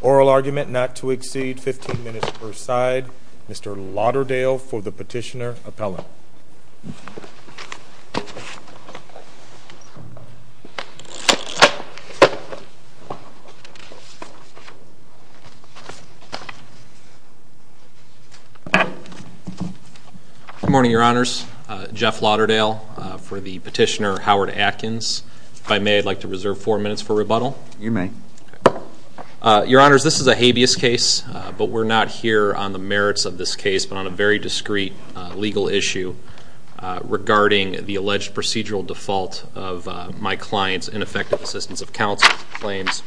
Oral argument not to exceed 15 minutes per side. Mr. Lauderdale for the petitioner appellate. Good morning, your honors. Jeff Lauderdale for the petitioner Howard Atkins. If I may, I'd like to reserve four minutes for rebuttal. You may. Your honors, this is a habeas case, but we're not here on the merits of this case, but on a very discreet legal issue regarding the alleged procedural default of my client's ineffective assistance of counsel claims.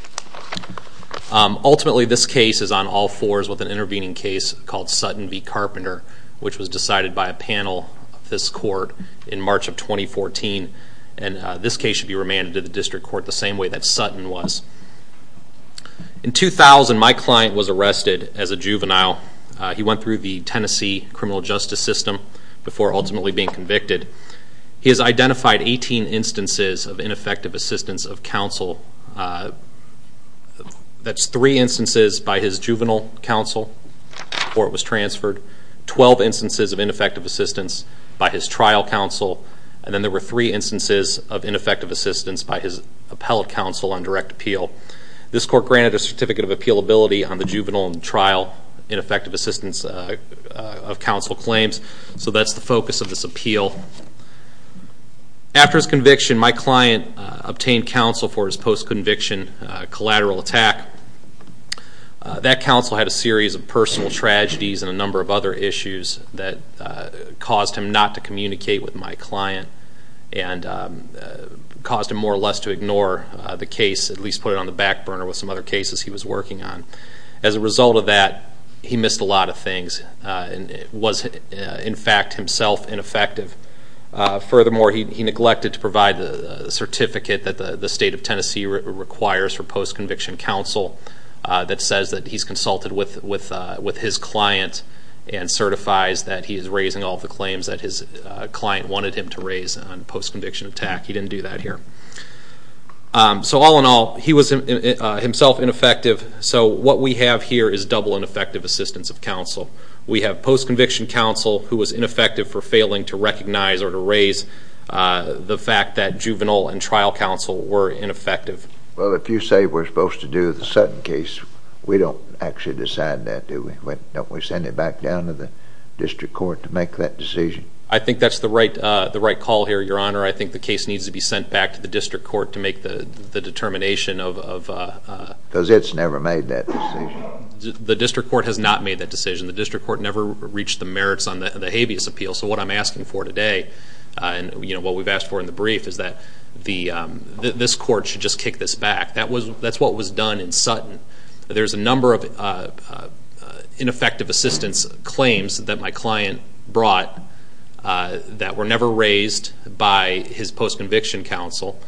Ultimately, this case is on all fours with an intervening case called Sutton v. Carpenter, which was decided by a panel of this court in March of 2014. And this case should be remanded to the district court the same way that Sutton was. In 2000, my client was arrested as a juvenile. He went through the Tennessee criminal justice system before ultimately being convicted. He has identified 18 instances of ineffective assistance of counsel. That's three instances by his juvenile counsel before it was transferred, 12 instances of ineffective assistance by his trial counsel, and then there were three instances of ineffective assistance by his appellate counsel on direct appeal. This court granted a certificate of appealability on the juvenile in trial ineffective assistance of counsel claims, so that's the focus of this appeal. After his conviction, my client obtained counsel for his post-conviction collateral attack. That counsel had a series of personal tragedies and a number of other issues that caused him not to communicate with my client and caused him more or less to ignore the case, at least put it on the back burner with some other cases he was working on. As a result of that, he missed a lot of things and was in fact himself ineffective. Furthermore, he neglected to provide the certificate that the state of Tennessee requires for post-conviction counsel that says that he's consulted with his client and certifies that he is raising all the claims that his client wanted him to raise on post-conviction attack. He didn't do that here. So all in all, he was himself ineffective, so what we have here is double ineffective assistance of counsel. We have post-conviction counsel who was ineffective for failing to recognize or to raise the fact that juvenile and trial counsel were ineffective. Well, if you say we're supposed to do the Sutton case, we don't actually decide that, do we? Don't we send it back down to the district court to make that decision? I think that's the right call here, Your Honor. I think the case needs to be sent back to the district court to make the determination of… Because it's never made that decision. The district court has not made that decision. The district court never reached the merits on the habeas appeal. So what I'm asking for today and what we've asked for in the brief is that this court should just kick this back. That's what was done in Sutton. There's a number of ineffective assistance claims that my client brought that were never raised by his post-conviction counsel.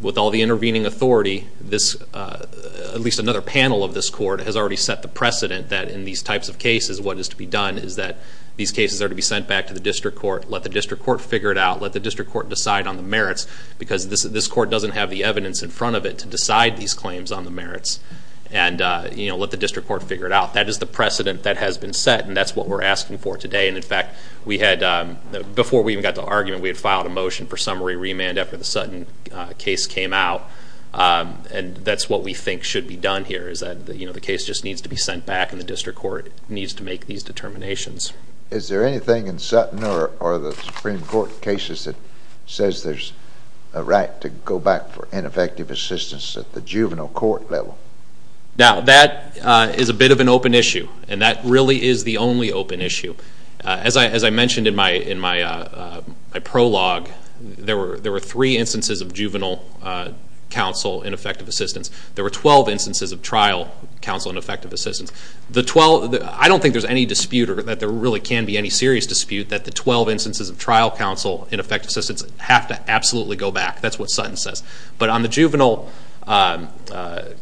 With all the intervening authority, at least another panel of this court has already set the precedent that in these types of cases, what is to be done is that these cases are to be sent back to the district court. Let the district court figure it out. Let the district court decide on the merits because this court doesn't have the evidence in front of it to decide these claims on the merits. Let the district court figure it out. That is the precedent that has been set, and that's what we're asking for today. In fact, before we even got to argument, we had filed a motion for summary remand after the Sutton case came out. That's what we think should be done here. The case just needs to be sent back, and the district court needs to make these determinations. Is there anything in Sutton or the Supreme Court cases that says there's a right to go back for ineffective assistance at the juvenile court level? Now, that is a bit of an open issue, and that really is the only open issue. As I mentioned in my prologue, there were three instances of juvenile counsel ineffective assistance. There were 12 instances of trial counsel ineffective assistance. I don't think there's any dispute or that there really can be any serious dispute that the 12 instances of trial counsel ineffective assistance have to absolutely go back. That's what Sutton says. But on the juvenile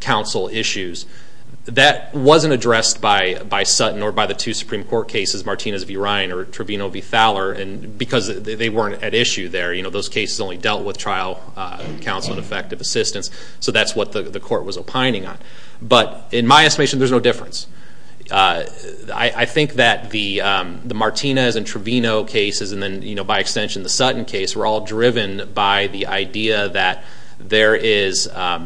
counsel issues, that wasn't addressed by Sutton or by the two Supreme Court cases, Martinez v. Ryan or Trevino v. Fowler, because they weren't at issue there. Those cases only dealt with trial counsel ineffective assistance. So that's what the court was opining on. But in my estimation, there's no difference. I think that the Martinez and Trevino cases, and then by extension the Sutton case, were all driven by the idea that there is a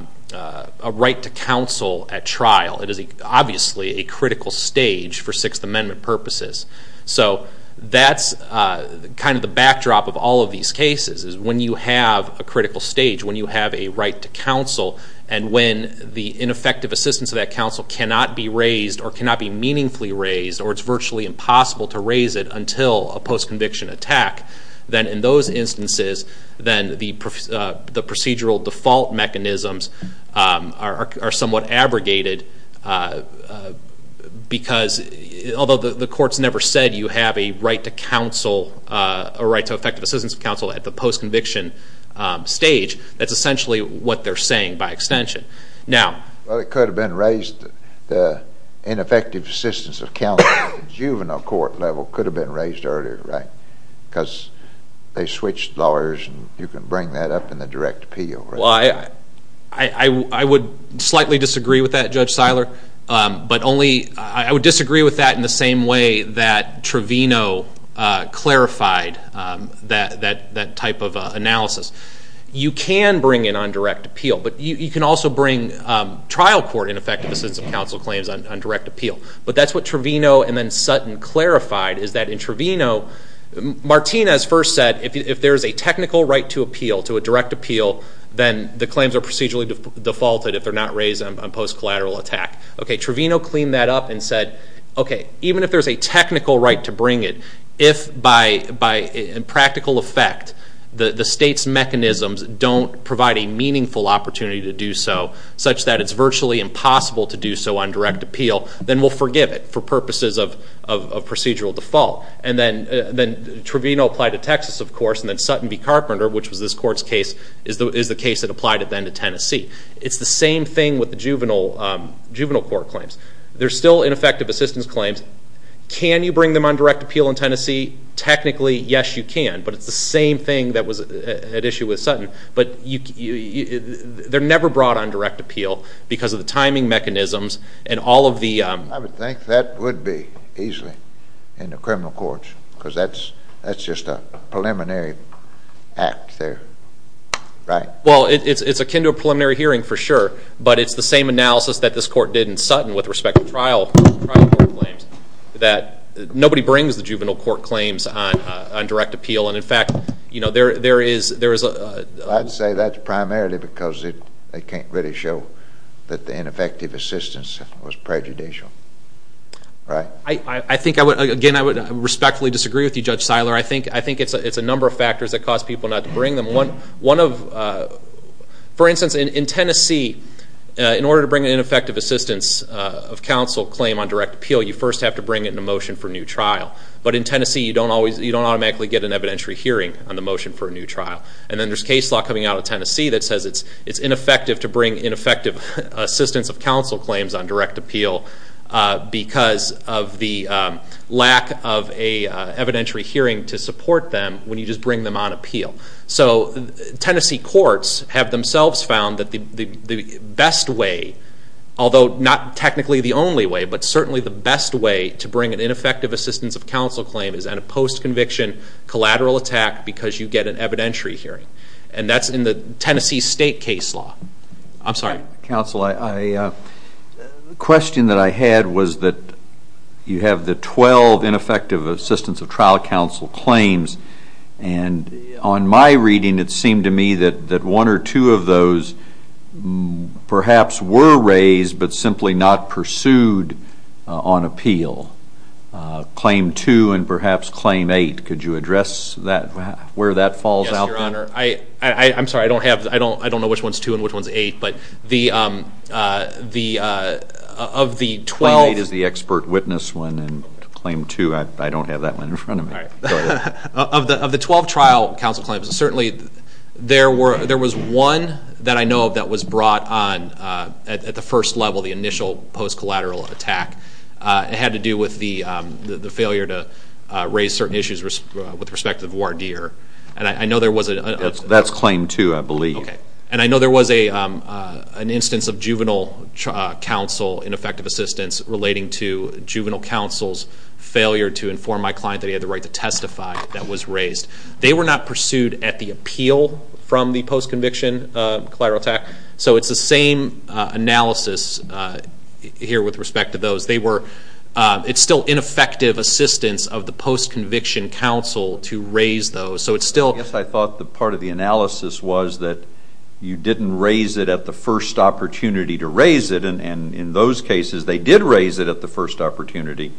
right to counsel at trial. It is obviously a critical stage for Sixth Amendment purposes. So that's kind of the backdrop of all of these cases, is when you have a critical stage, when you have a right to counsel, and when the ineffective assistance of that counsel cannot be raised or cannot be meaningfully raised or it's virtually impossible to raise it until a post-conviction attack, then in those instances then the procedural default mechanisms are somewhat abrogated because although the court's never said you have a right to counsel, a right to effective assistance of counsel at the post-conviction stage, that's essentially what they're saying by extension. Well, it could have been raised, the ineffective assistance of counsel at the juvenile court level could have been raised earlier, right? Because they switched lawyers and you can bring that up in the direct appeal. Well, I would slightly disagree with that, Judge Seiler. I would disagree with that in the same way that Trevino clarified that type of analysis. You can bring it on direct appeal, but you can also bring trial court ineffective assistance of counsel claims on direct appeal. But that's what Trevino and then Sutton clarified, is that in Trevino, Martinez first said if there is a technical right to appeal, to a direct appeal, then the claims are procedurally defaulted if they're not raised on post-collateral attack. Okay, Trevino cleaned that up and said, okay, even if there's a technical right to bring it, if by practical effect the state's mechanisms don't provide a meaningful opportunity to do so, such that it's virtually impossible to do so on direct appeal, then we'll forgive it for purposes of procedural default. And then Trevino applied to Texas, of course, and then Sutton v. Carpenter, which was this Court's case, is the case that applied it then to Tennessee. It's the same thing with the juvenile court claims. They're still ineffective assistance claims. Can you bring them on direct appeal in Tennessee? Technically, yes, you can, but it's the same thing that was at issue with Sutton. But they're never brought on direct appeal because of the timing mechanisms and all of the ‑‑ I would think that would be easily in the criminal courts because that's just a preliminary act there, right? Well, it's akin to a preliminary hearing for sure, but it's the same analysis that this Court did in Sutton with respect to trial court claims that nobody brings the juvenile court claims on direct appeal. And, in fact, there is a ‑‑ I think, again, I would respectfully disagree with you, Judge Seiler. I think it's a number of factors that cause people not to bring them. For instance, in Tennessee, in order to bring an ineffective assistance of counsel claim on direct appeal, you first have to bring it in a motion for a new trial. But in Tennessee, you don't automatically get an evidentiary hearing on the motion for a new trial. And then there's case law coming out of Tennessee that says it's ineffective to bring ineffective assistance of counsel claims on direct appeal because of the lack of an evidentiary hearing to support them when you just bring them on appeal. So Tennessee courts have themselves found that the best way, although not technically the only way, but certainly the best way to bring an ineffective assistance of counsel claim is in a post‑conviction collateral attack because you get an evidentiary hearing. And that's in the Tennessee state case law. I'm sorry. Counsel, the question that I had was that you have the 12 ineffective assistance of trial counsel claims. And on my reading, it seemed to me that one or two of those perhaps were raised but simply not pursued on appeal. Claim two and perhaps claim eight. Could you address where that falls out there? Yes, Your Honor. I'm sorry. I don't know which one's two and which one's eight. But of the 12 ‑‑ Claim eight is the expert witness one. And claim two, I don't have that one in front of me. Of the 12 trial counsel claims, certainly there was one that I know of that was brought on at the first level, the initial post‑collateral attack. It had to do with the failure to raise certain issues with respect to voir dire. That's claim two, I believe. Okay. And I know there was an instance of juvenile counsel ineffective assistance relating to juvenile counsel's failure to inform my client that he had the right to testify that was raised. They were not pursued at the appeal from the post‑conviction collateral attack. So it's the same analysis here with respect to those. It's still ineffective assistance of the post‑conviction counsel to raise those. So it's still ‑‑ Yes, I thought part of the analysis was that you didn't raise it at the first opportunity to raise it. And in those cases, they did raise it at the first opportunity.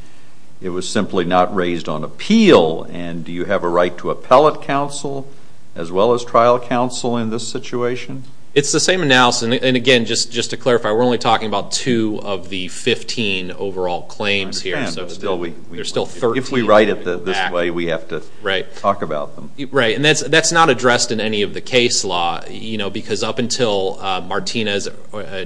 It was simply not raised on appeal. And do you have a right to appellate counsel as well as trial counsel in this situation? It's the same analysis. And, again, just to clarify, we're only talking about two of the 15 overall claims here. I understand. There are still 13. If we write it this way, we have to talk about them. Right. And that's not addressed in any of the case law, you know, because up until Martinez,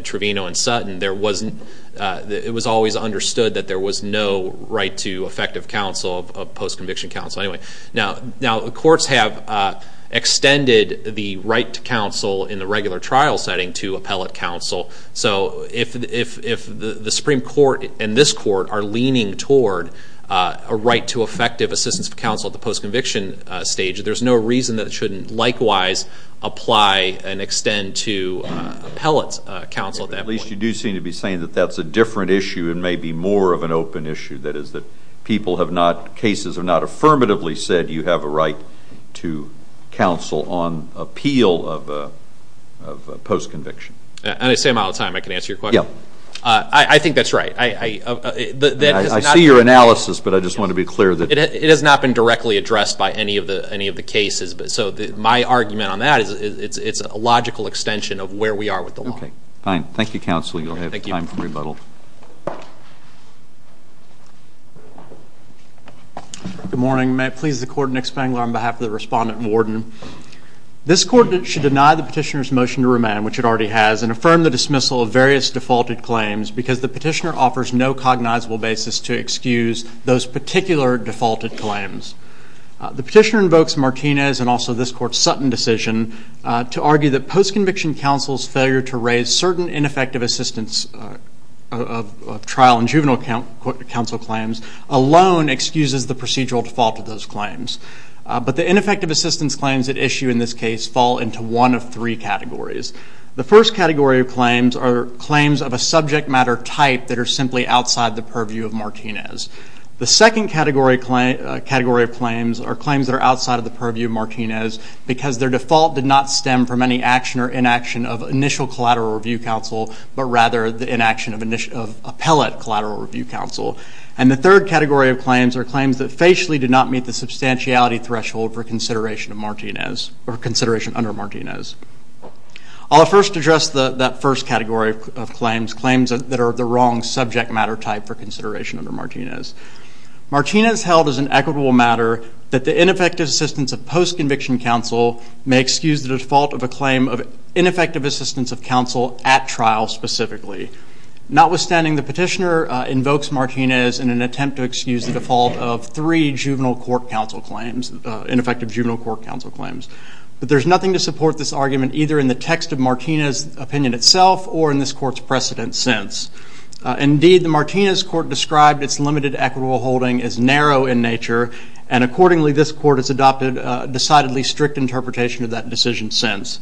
Trevino, and Sutton, it was always understood that there was no right to effective counsel of post‑conviction counsel. Now, the courts have extended the right to counsel in the regular trial setting to appellate counsel. So if the Supreme Court and this court are leaning toward a right to effective assistance of counsel at the post‑conviction stage, there's no reason that it shouldn't likewise apply and extend to appellate counsel at that point. At least you do seem to be saying that that's a different issue and maybe more of an open issue, that is that people have not ‑‑ cases have not affirmatively said you have a right to counsel on appeal of post‑conviction. And I say them all the time. I can answer your question. Yeah. I think that's right. I see your analysis, but I just want to be clear that ‑‑ It has not been directly addressed by any of the cases. So my argument on that is it's a logical extension of where we are with the law. Okay. Fine. Thank you, counsel. You'll have time for rebuttal. Thank you, counsel. Good morning. May it please the Court, Nick Spangler on behalf of the Respondent and Warden. This court should deny the petitioner's motion to remand, which it already has, and affirm the dismissal of various defaulted claims because the petitioner offers no cognizable basis to excuse those particular defaulted claims. The petitioner invokes Martinez and also this court's Sutton decision to argue that post‑conviction counsel's failure to raise certain ineffective assistance of trial and juvenile counsel claims alone excuses the procedural default of those claims. But the ineffective assistance claims at issue in this case fall into one of three categories. The first category of claims are claims of a subject matter type that are simply outside the purview of Martinez. The second category of claims are claims that are outside of the purview of Martinez because their default did not stem from any action or inaction of initial collateral review counsel, but rather the inaction of appellate collateral review counsel. And the third category of claims are claims that facially did not meet the substantiality threshold for consideration under Martinez. I'll first address that first category of claims, claims that are the wrong subject matter type for consideration under Martinez. Martinez held as an equitable matter that the ineffective assistance of post‑conviction counsel may excuse the default of a claim of ineffective assistance of counsel at trial specifically. Notwithstanding, the petitioner invokes Martinez in an attempt to excuse the default of three juvenile court counsel claims, ineffective juvenile court counsel claims. But there's nothing to support this argument either in the text of Martinez' opinion itself or in this court's precedent since. Indeed, the Martinez court described its limited equitable holding as narrow in nature, and accordingly this court has adopted a decidedly strict interpretation of that decision since.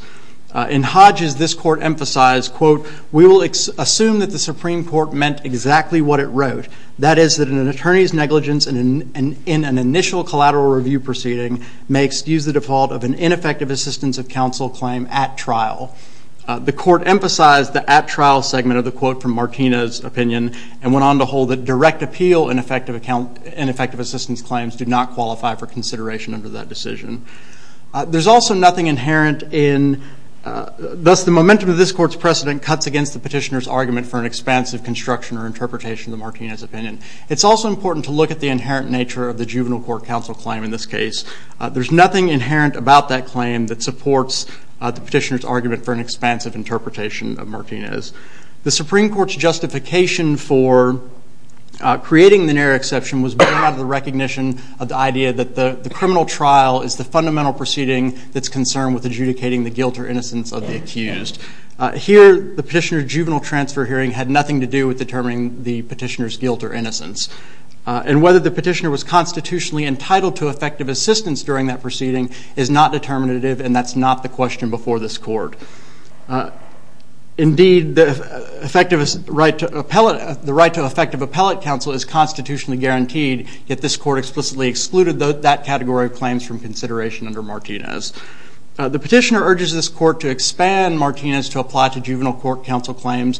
In Hodges, this court emphasized, quote, we will assume that the Supreme Court meant exactly what it wrote, that is that an attorney's negligence in an initial collateral review proceeding may excuse the default of an ineffective assistance of counsel claim at trial. The court emphasized the at trial segment of the quote from Martinez' opinion and went on to hold that direct appeal and effective assistance claims do not qualify for consideration under that decision. There's also nothing inherent in, thus the momentum of this court's precedent cuts against the petitioner's argument for an expansive construction or interpretation of the Martinez opinion. It's also important to look at the inherent nature of the juvenile court counsel claim in this case. There's nothing inherent about that claim that supports the petitioner's argument for an expansive interpretation of Martinez. The Supreme Court's justification for creating the narrow exception was born out of the recognition of the idea that the criminal trial is the fundamental proceeding that's concerned with adjudicating the guilt or innocence of the accused. Here, the petitioner's juvenile transfer hearing had nothing to do with determining the petitioner's guilt or innocence. And whether the petitioner was constitutionally entitled to effective assistance during that proceeding is not determinative and that's not the question before this court. Indeed, the right to effective appellate counsel is constitutionally guaranteed, yet this court explicitly excluded that category of claims from consideration under Martinez. The petitioner urges this court to expand Martinez to apply to juvenile court counsel claims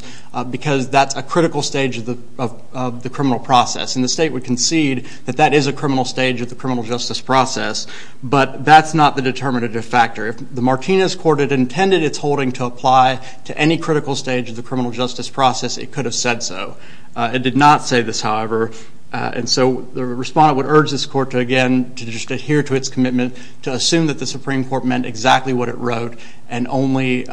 because that's a critical stage of the criminal process. And the state would concede that that is a criminal stage of the criminal justice process, but that's not the determinative factor. If the Martinez court had intended its holding to apply to any critical stage of the criminal justice process, it could have said so. It did not say this, however. And so the respondent would urge this court to, again, to just adhere to its commitment to assume that the Supreme Court meant exactly what it wrote and only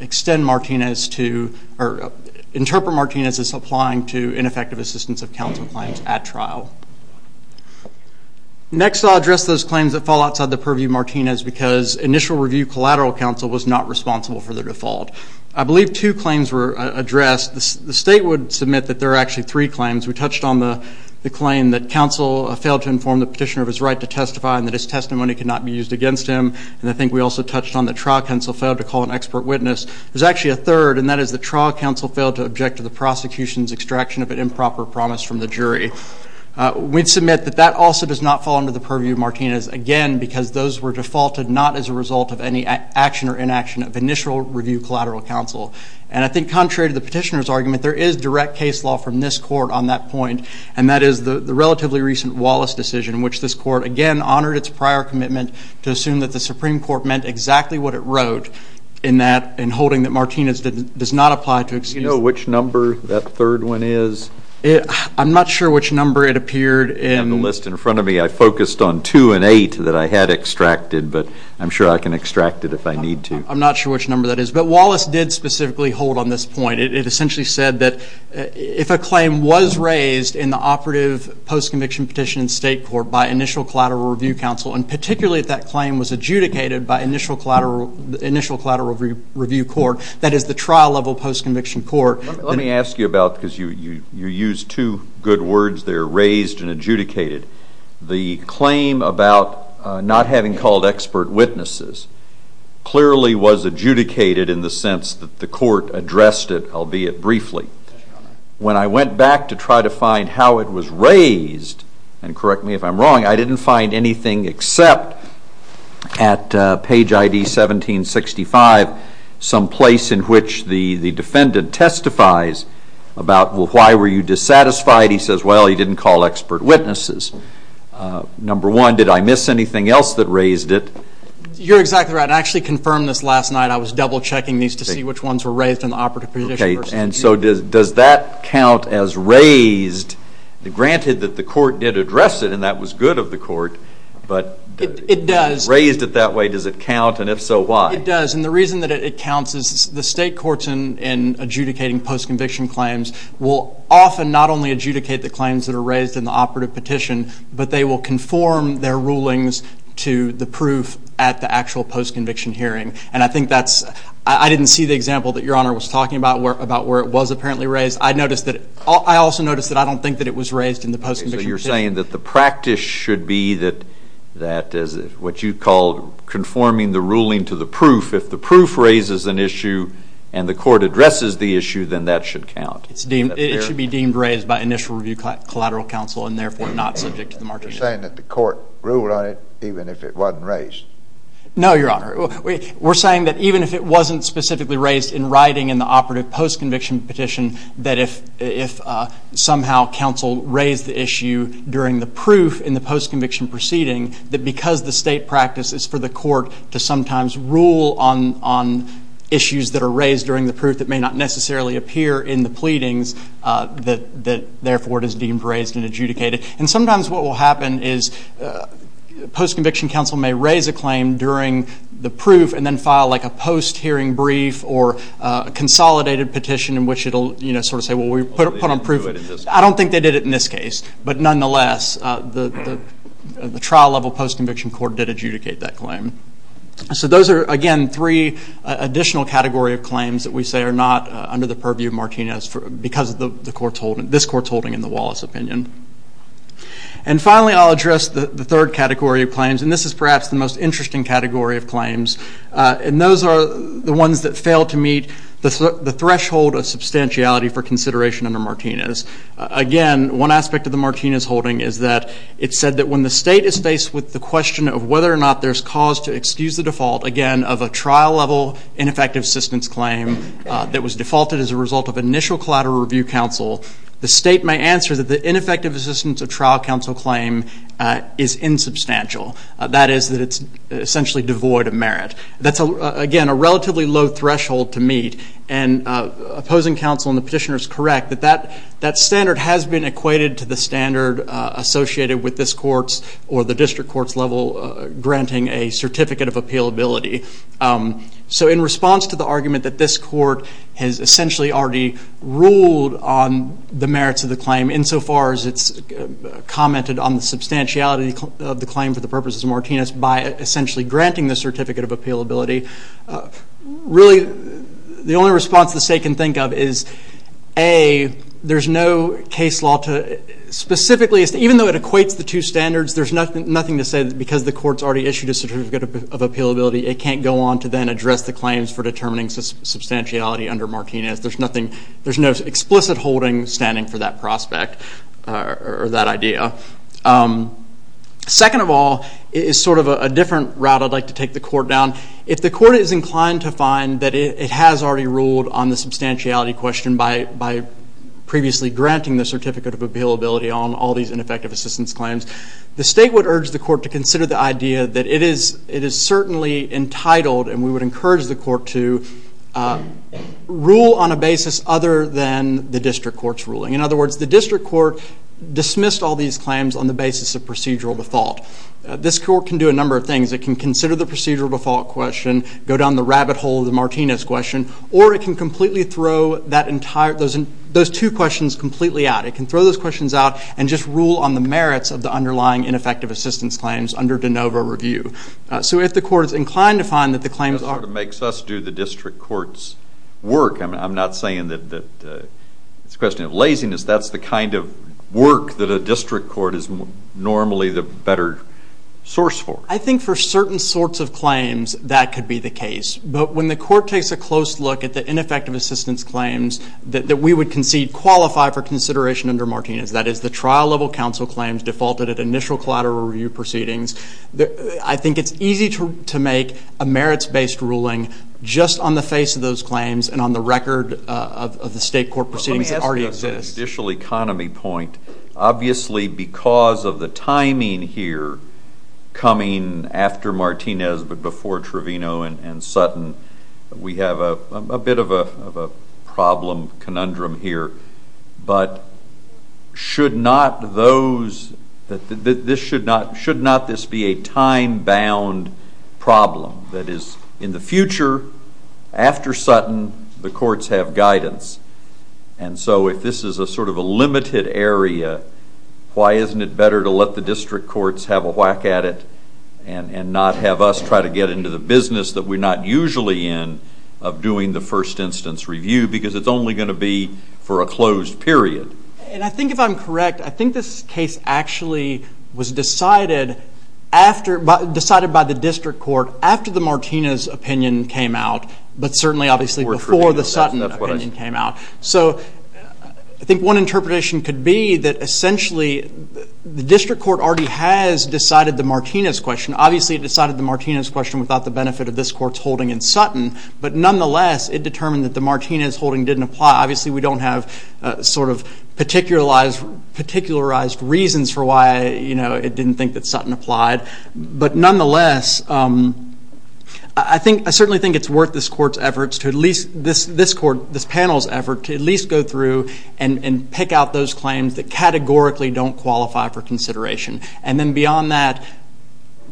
extend Martinez to or interpret Martinez as applying to ineffective assistance of counsel claims at trial. Next, I'll address those claims that fall outside the purview of Martinez because initial review collateral counsel was not responsible for the default. I believe two claims were addressed. The state would submit that there are actually three claims. We touched on the claim that counsel failed to inform the petitioner of his right to testify and that his testimony could not be used against him. And I think we also touched on the trial counsel failed to call an expert witness. There's actually a third, and that is the trial counsel failed to object to the prosecution's extraction of an improper promise from the jury. We'd submit that that also does not fall under the purview of Martinez, again, because those were defaulted not as a result of any action or inaction of initial review collateral counsel. And I think contrary to the petitioner's argument, there is direct case law from this court on that point, and that is the relatively recent Wallace decision, which this court, again, honored its prior commitment to assume that the Supreme Court meant exactly what it wrote in holding that Martinez does not apply to excuse. Do you know which number that third one is? I'm not sure which number it appeared in. On the list in front of me, I focused on two and eight that I had extracted, but I'm sure I can extract it if I need to. I'm not sure which number that is. But Wallace did specifically hold on this point. It essentially said that if a claim was raised in the operative postconviction petition in state court by initial collateral review counsel, and particularly if that claim was adjudicated by initial collateral review court, that is the trial-level postconviction court. Let me ask you about, because you used two good words there, raised and adjudicated. The claim about not having called expert witnesses clearly was adjudicated in the sense that the court addressed it, albeit briefly. When I went back to try to find how it was raised, and correct me if I'm wrong, I didn't find anything except at page ID 1765 some place in which the defendant testifies about why were you dissatisfied. He says, well, he didn't call expert witnesses. Number one, did I miss anything else that raised it? You're exactly right. I actually confirmed this last night. I was double-checking these to see which ones were raised in the operative petition. Okay, and so does that count as raised? Granted that the court did address it, and that was good of the court, but raised it that way, does it count, and if so, why? It does, and the reason that it counts is the state courts in adjudicating postconviction claims will often not only adjudicate the claims that are raised in the operative petition, but they will conform their rulings to the proof at the actual postconviction hearing. And I think that's – I didn't see the example that Your Honor was talking about where it was apparently raised. I noticed that – I also noticed that I don't think that it was raised in the postconviction petition. Okay, so you're saying that the practice should be that what you called conforming the ruling to the proof, if the proof raises an issue and the court addresses the issue, then that should count. It should be deemed raised by initial review collateral counsel and therefore not subject to the margin of error. You're saying that the court ruled on it even if it wasn't raised. No, Your Honor. We're saying that even if it wasn't specifically raised in writing in the operative postconviction petition, that if somehow counsel raised the issue during the proof in the postconviction proceeding, that because the state practice is for the court to sometimes rule on issues that are raised during the proof that may not necessarily appear in the pleadings, that therefore it is deemed raised and adjudicated. And sometimes what will happen is postconviction counsel may raise a claim during the proof and then file like a post-hearing brief or a consolidated petition in which it will sort of say, well, we put on proof. I don't think they did it in this case. But nonetheless, the trial-level postconviction court did adjudicate that claim. So those are, again, three additional category of claims that we say are not under the purview of Martinez because of this court's holding in the Wallace opinion. And finally, I'll address the third category of claims, and this is perhaps the most interesting category of claims, and those are the ones that fail to meet the threshold of substantiality for consideration under Martinez. Again, one aspect of the Martinez holding is that it said that when the state is faced with the question of whether or not there's cause to excuse the default, again, of a trial-level ineffective assistance claim that was defaulted as a result of initial collateral review counsel, the state may answer that the ineffective assistance of trial counsel claim is insubstantial. That is that it's essentially devoid of merit. That's, again, a relatively low threshold to meet. And opposing counsel and the petitioner is correct that that standard has been equated to the standard associated with this court's or the district court's level granting a certificate of appealability. So in response to the argument that this court has essentially already ruled on the merits of the claim insofar as it's commented on the substantiality of the claim for the purposes of Martinez by essentially granting the certificate of appealability, really the only response the state can think of is, A, there's no case law to specifically, even though it equates the two standards, there's nothing to say that because the court's already issued a certificate of appealability, it can't go on to then address the claims for determining substantiality under Martinez. There's no explicit holding standing for that prospect or that idea. Second of all is sort of a different route I'd like to take the court down. If the court is inclined to find that it has already ruled on the substantiality question by previously granting the certificate of appealability on all these ineffective assistance claims, the state would urge the court to consider the idea that it is certainly entitled and we would encourage the court to rule on a basis other than the district court's ruling. In other words, the district court dismissed all these claims on the basis of procedural default. This court can do a number of things. It can consider the procedural default question, go down the rabbit hole of the Martinez question, or it can completely throw those two questions completely out. It can throw those questions out and just rule on the merits of the underlying ineffective assistance claims under de novo review. So if the court is inclined to find that the claims are- That sort of makes us do the district court's work. I'm not saying that it's a question of laziness. That's the kind of work that a district court is normally the better source for. I think for certain sorts of claims that could be the case. But when the court takes a close look at the ineffective assistance claims that we would concede qualify for consideration under Martinez, that is the trial-level counsel claims defaulted at initial collateral review proceedings, I think it's easy to make a merits-based ruling just on the face of those claims and on the record of the state court proceedings that already exist. Let me ask you a judicial economy point. Obviously because of the timing here coming after Martinez but before Trevino and Sutton, we have a bit of a problem conundrum here. But should not this be a time-bound problem? That is, in the future, after Sutton, the courts have guidance. And so if this is sort of a limited area, why isn't it better to let the district courts have a whack at it and not have us try to get into the business that we're not usually in of doing the first instance review because it's only going to be for a closed period? And I think if I'm correct, I think this case actually was decided by the district court after the Martinez opinion came out but certainly obviously before the Sutton opinion came out. So I think one interpretation could be that essentially the district court already has decided the Martinez question. Obviously it decided the Martinez question without the benefit of this court's holding in Sutton. But nonetheless, it determined that the Martinez holding didn't apply. Obviously we don't have sort of particularized reasons for why it didn't think that Sutton applied. But nonetheless, I certainly think it's worth this panel's effort to at least go through and pick out those claims that categorically don't qualify for consideration. And then beyond that,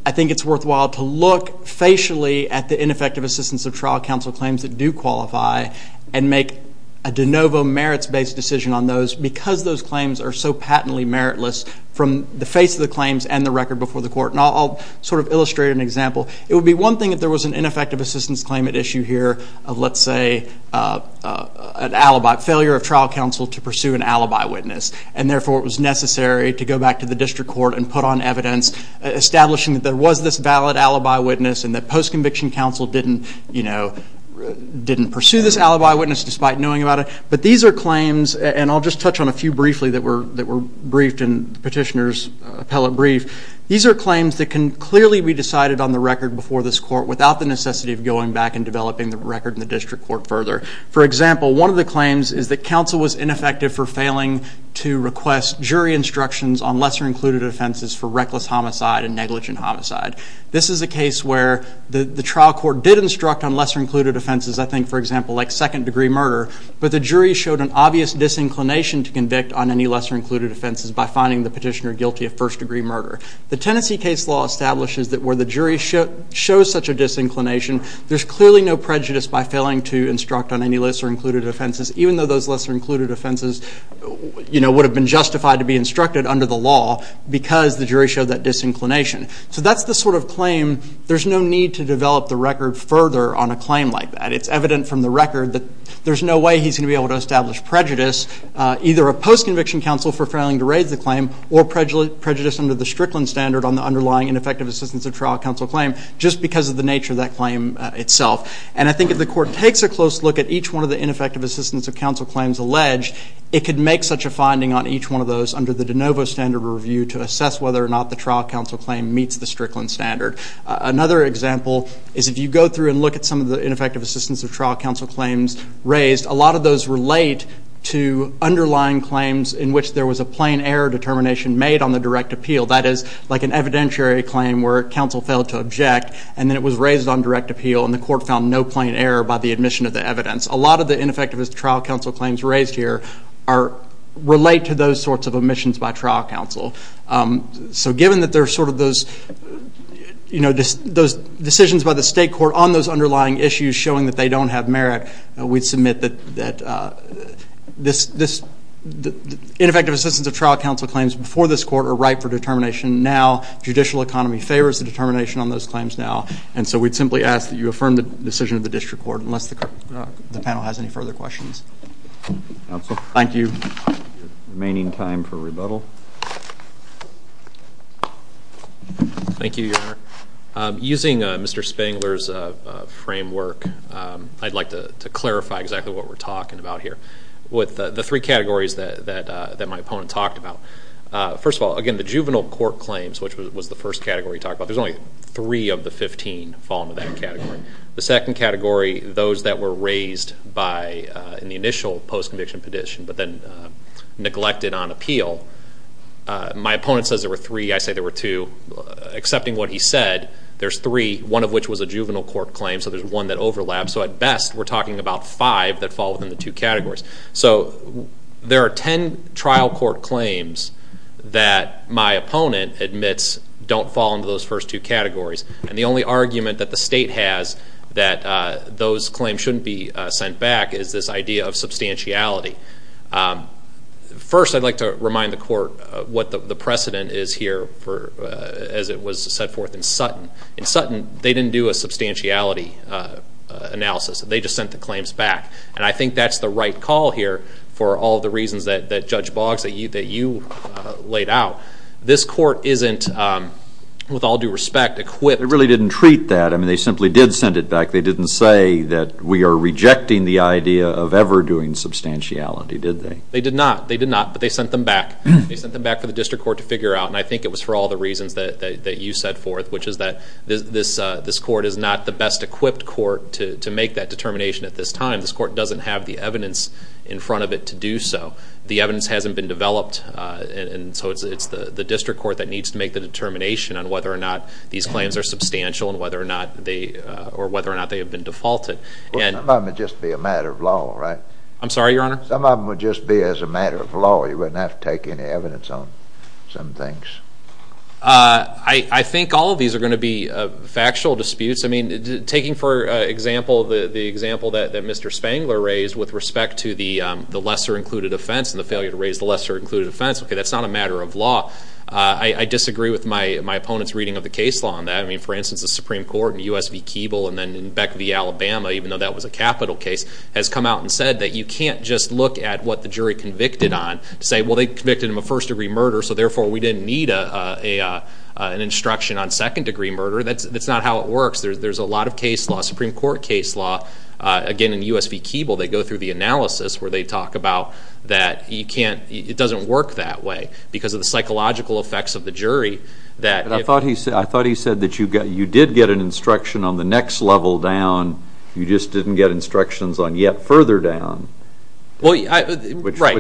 I think it's worthwhile to look facially at the ineffective assistance of trial counsel claims that do qualify and make a de novo merits-based decision on those because those claims are so patently meritless from the face of the claims and the record before the court. And I'll sort of illustrate an example. It would be one thing if there was an ineffective assistance claim at issue here of let's say an alibi, failure of trial counsel to pursue an alibi witness. And therefore it was necessary to go back to the district court and put on evidence, establishing that there was this valid alibi witness and that post-conviction counsel didn't, you know, didn't pursue this alibi witness despite knowing about it. But these are claims, and I'll just touch on a few briefly that were briefed in the petitioner's appellate brief. These are claims that can clearly be decided on the record before this court without the necessity of going back and developing the record in the district court further. For example, one of the claims is that counsel was ineffective for failing to request jury instructions on lesser-included offenses for reckless homicide and negligent homicide. This is a case where the trial court did instruct on lesser-included offenses, I think, for example, like second-degree murder, but the jury showed an obvious disinclination to convict on any lesser-included offenses by finding the petitioner guilty of first-degree murder. The Tennessee case law establishes that where the jury shows such a disinclination, there's clearly no prejudice by failing to instruct on any lesser-included offenses, even though those lesser-included offenses, you know, would have been justified to be instructed under the law because the jury showed that disinclination. So that's the sort of claim. There's no need to develop the record further on a claim like that. It's evident from the record that there's no way he's going to be able to establish prejudice, either of post-conviction counsel for failing to raise the claim or prejudice under the Strickland standard on the underlying ineffective assistance of trial counsel claim just because of the nature of that claim itself. And I think if the court takes a close look at each one of the ineffective assistance of counsel claims alleged, it could make such a finding on each one of those under the de novo standard review to assess whether or not the trial counsel claim meets the Strickland standard. Another example is if you go through and look at some of the ineffective assistance of trial counsel claims raised, a lot of those relate to underlying claims in which there was a plain error determination made on the direct appeal. That is like an evidentiary claim where counsel failed to object and then it was raised on direct appeal and the court found no plain error by the admission of the evidence. A lot of the ineffective trial counsel claims raised here relate to those sorts of omissions by trial counsel. So given that there are sort of those decisions by the state court on those underlying issues showing that they don't have merit, we'd submit that this ineffective assistance of trial counsel claims before this court are right for determination now. Judicial economy favors the determination on those claims now. And so we'd simply ask that you affirm the decision of the district court unless the panel has any further questions. Counsel. Thank you. Remaining time for rebuttal. Thank you, Your Honor. Using Mr. Spangler's framework, I'd like to clarify exactly what we're talking about here. With the three categories that my opponent talked about, first of all, again, the juvenile court claims, which was the first category he talked about, there's only three of the 15 fall into that category. The second category, those that were raised in the initial post-conviction petition but then neglected on appeal, my opponent says there were three. I say there were two. Accepting what he said, there's three, one of which was a juvenile court claim, so there's one that overlaps. So at best, we're talking about five that fall within the two categories. So there are ten trial court claims that my opponent admits don't fall into those first two categories, and the only argument that the state has that those claims shouldn't be sent back is this idea of substantiality. First, I'd like to remind the court what the precedent is here as it was set forth in Sutton. In Sutton, they didn't do a substantiality analysis. They just sent the claims back, and I think that's the right call here for all the reasons that Judge Boggs, that you laid out. This court isn't, with all due respect, equipped. They really didn't treat that. I mean, they simply did send it back. They didn't say that we are rejecting the idea of ever doing substantiality, did they? They did not. They did not, but they sent them back. They sent them back for the district court to figure out, and I think it was for all the reasons that you set forth, which is that this court is not the best equipped court to make that determination at this time. This court doesn't have the evidence in front of it to do so. The evidence hasn't been developed, and so it's the district court that needs to make the determination on whether or not these claims are substantial or whether or not they have been defaulted. Some of them would just be a matter of law, right? I'm sorry, Your Honor? Some of them would just be as a matter of law. You wouldn't have to take any evidence on some things. I think all of these are going to be factual disputes. I mean, taking for example the example that Mr. Spangler raised with respect to the lesser included offense and the failure to raise the lesser included offense, okay, that's not a matter of law. I disagree with my opponent's reading of the case law on that. I mean, for instance, the Supreme Court in U.S. v. Keeble and then in Beck v. Alabama, even though that was a capital case, has come out and said that you can't just look at what the jury convicted on and say, well, they convicted him of first-degree murder, so therefore we didn't need an instruction on second-degree murder. That's not how it works. There's a lot of case law, Supreme Court case law. Again, in U.S. v. Keeble, they go through the analysis where they talk about that it doesn't work that way because of the psychological effects of the jury. I thought he said that you did get an instruction on the next level down. You just didn't get instructions on yet further down, which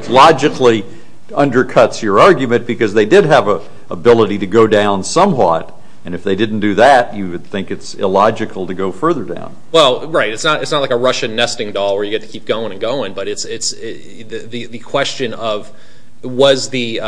logically undercuts your argument because they did have an ability to go down somewhat, and if they didn't do that, you would think it's illogical to go further down. Well, right. It's not like a Russian nesting doll where you get to keep going and going, but the question of was there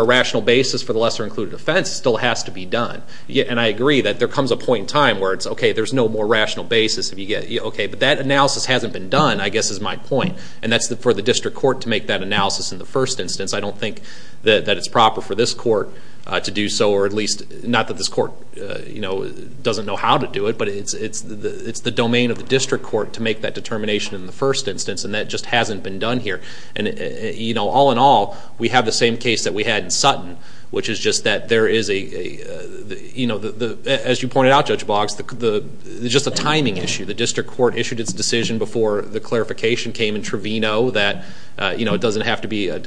a rational basis for the lesser-included offense still has to be done, and I agree that there comes a point in time where it's, okay, there's no more rational basis. Okay, but that analysis hasn't been done, I guess is my point, and that's for the district court to make that analysis in the first instance. I don't think that it's proper for this court to do so, or at least not that this court doesn't know how to do it, but it's the domain of the district court to make that determination in the first instance, and that just hasn't been done here. And, you know, all in all, we have the same case that we had in Sutton, which is just that there is a, you know, as you pointed out, Judge Boggs, just a timing issue. The district court issued its decision before the clarification came in Trevino that, you know, it doesn't have to be a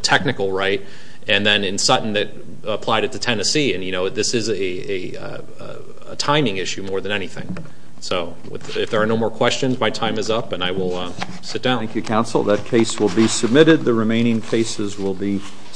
technical right, and then in Sutton it applied it to Tennessee, and, you know, this is a timing issue more than anything. So if there are no more questions, my time is up, and I will sit down. Thank you, counsel. That case will be submitted. The remaining cases will be submitted.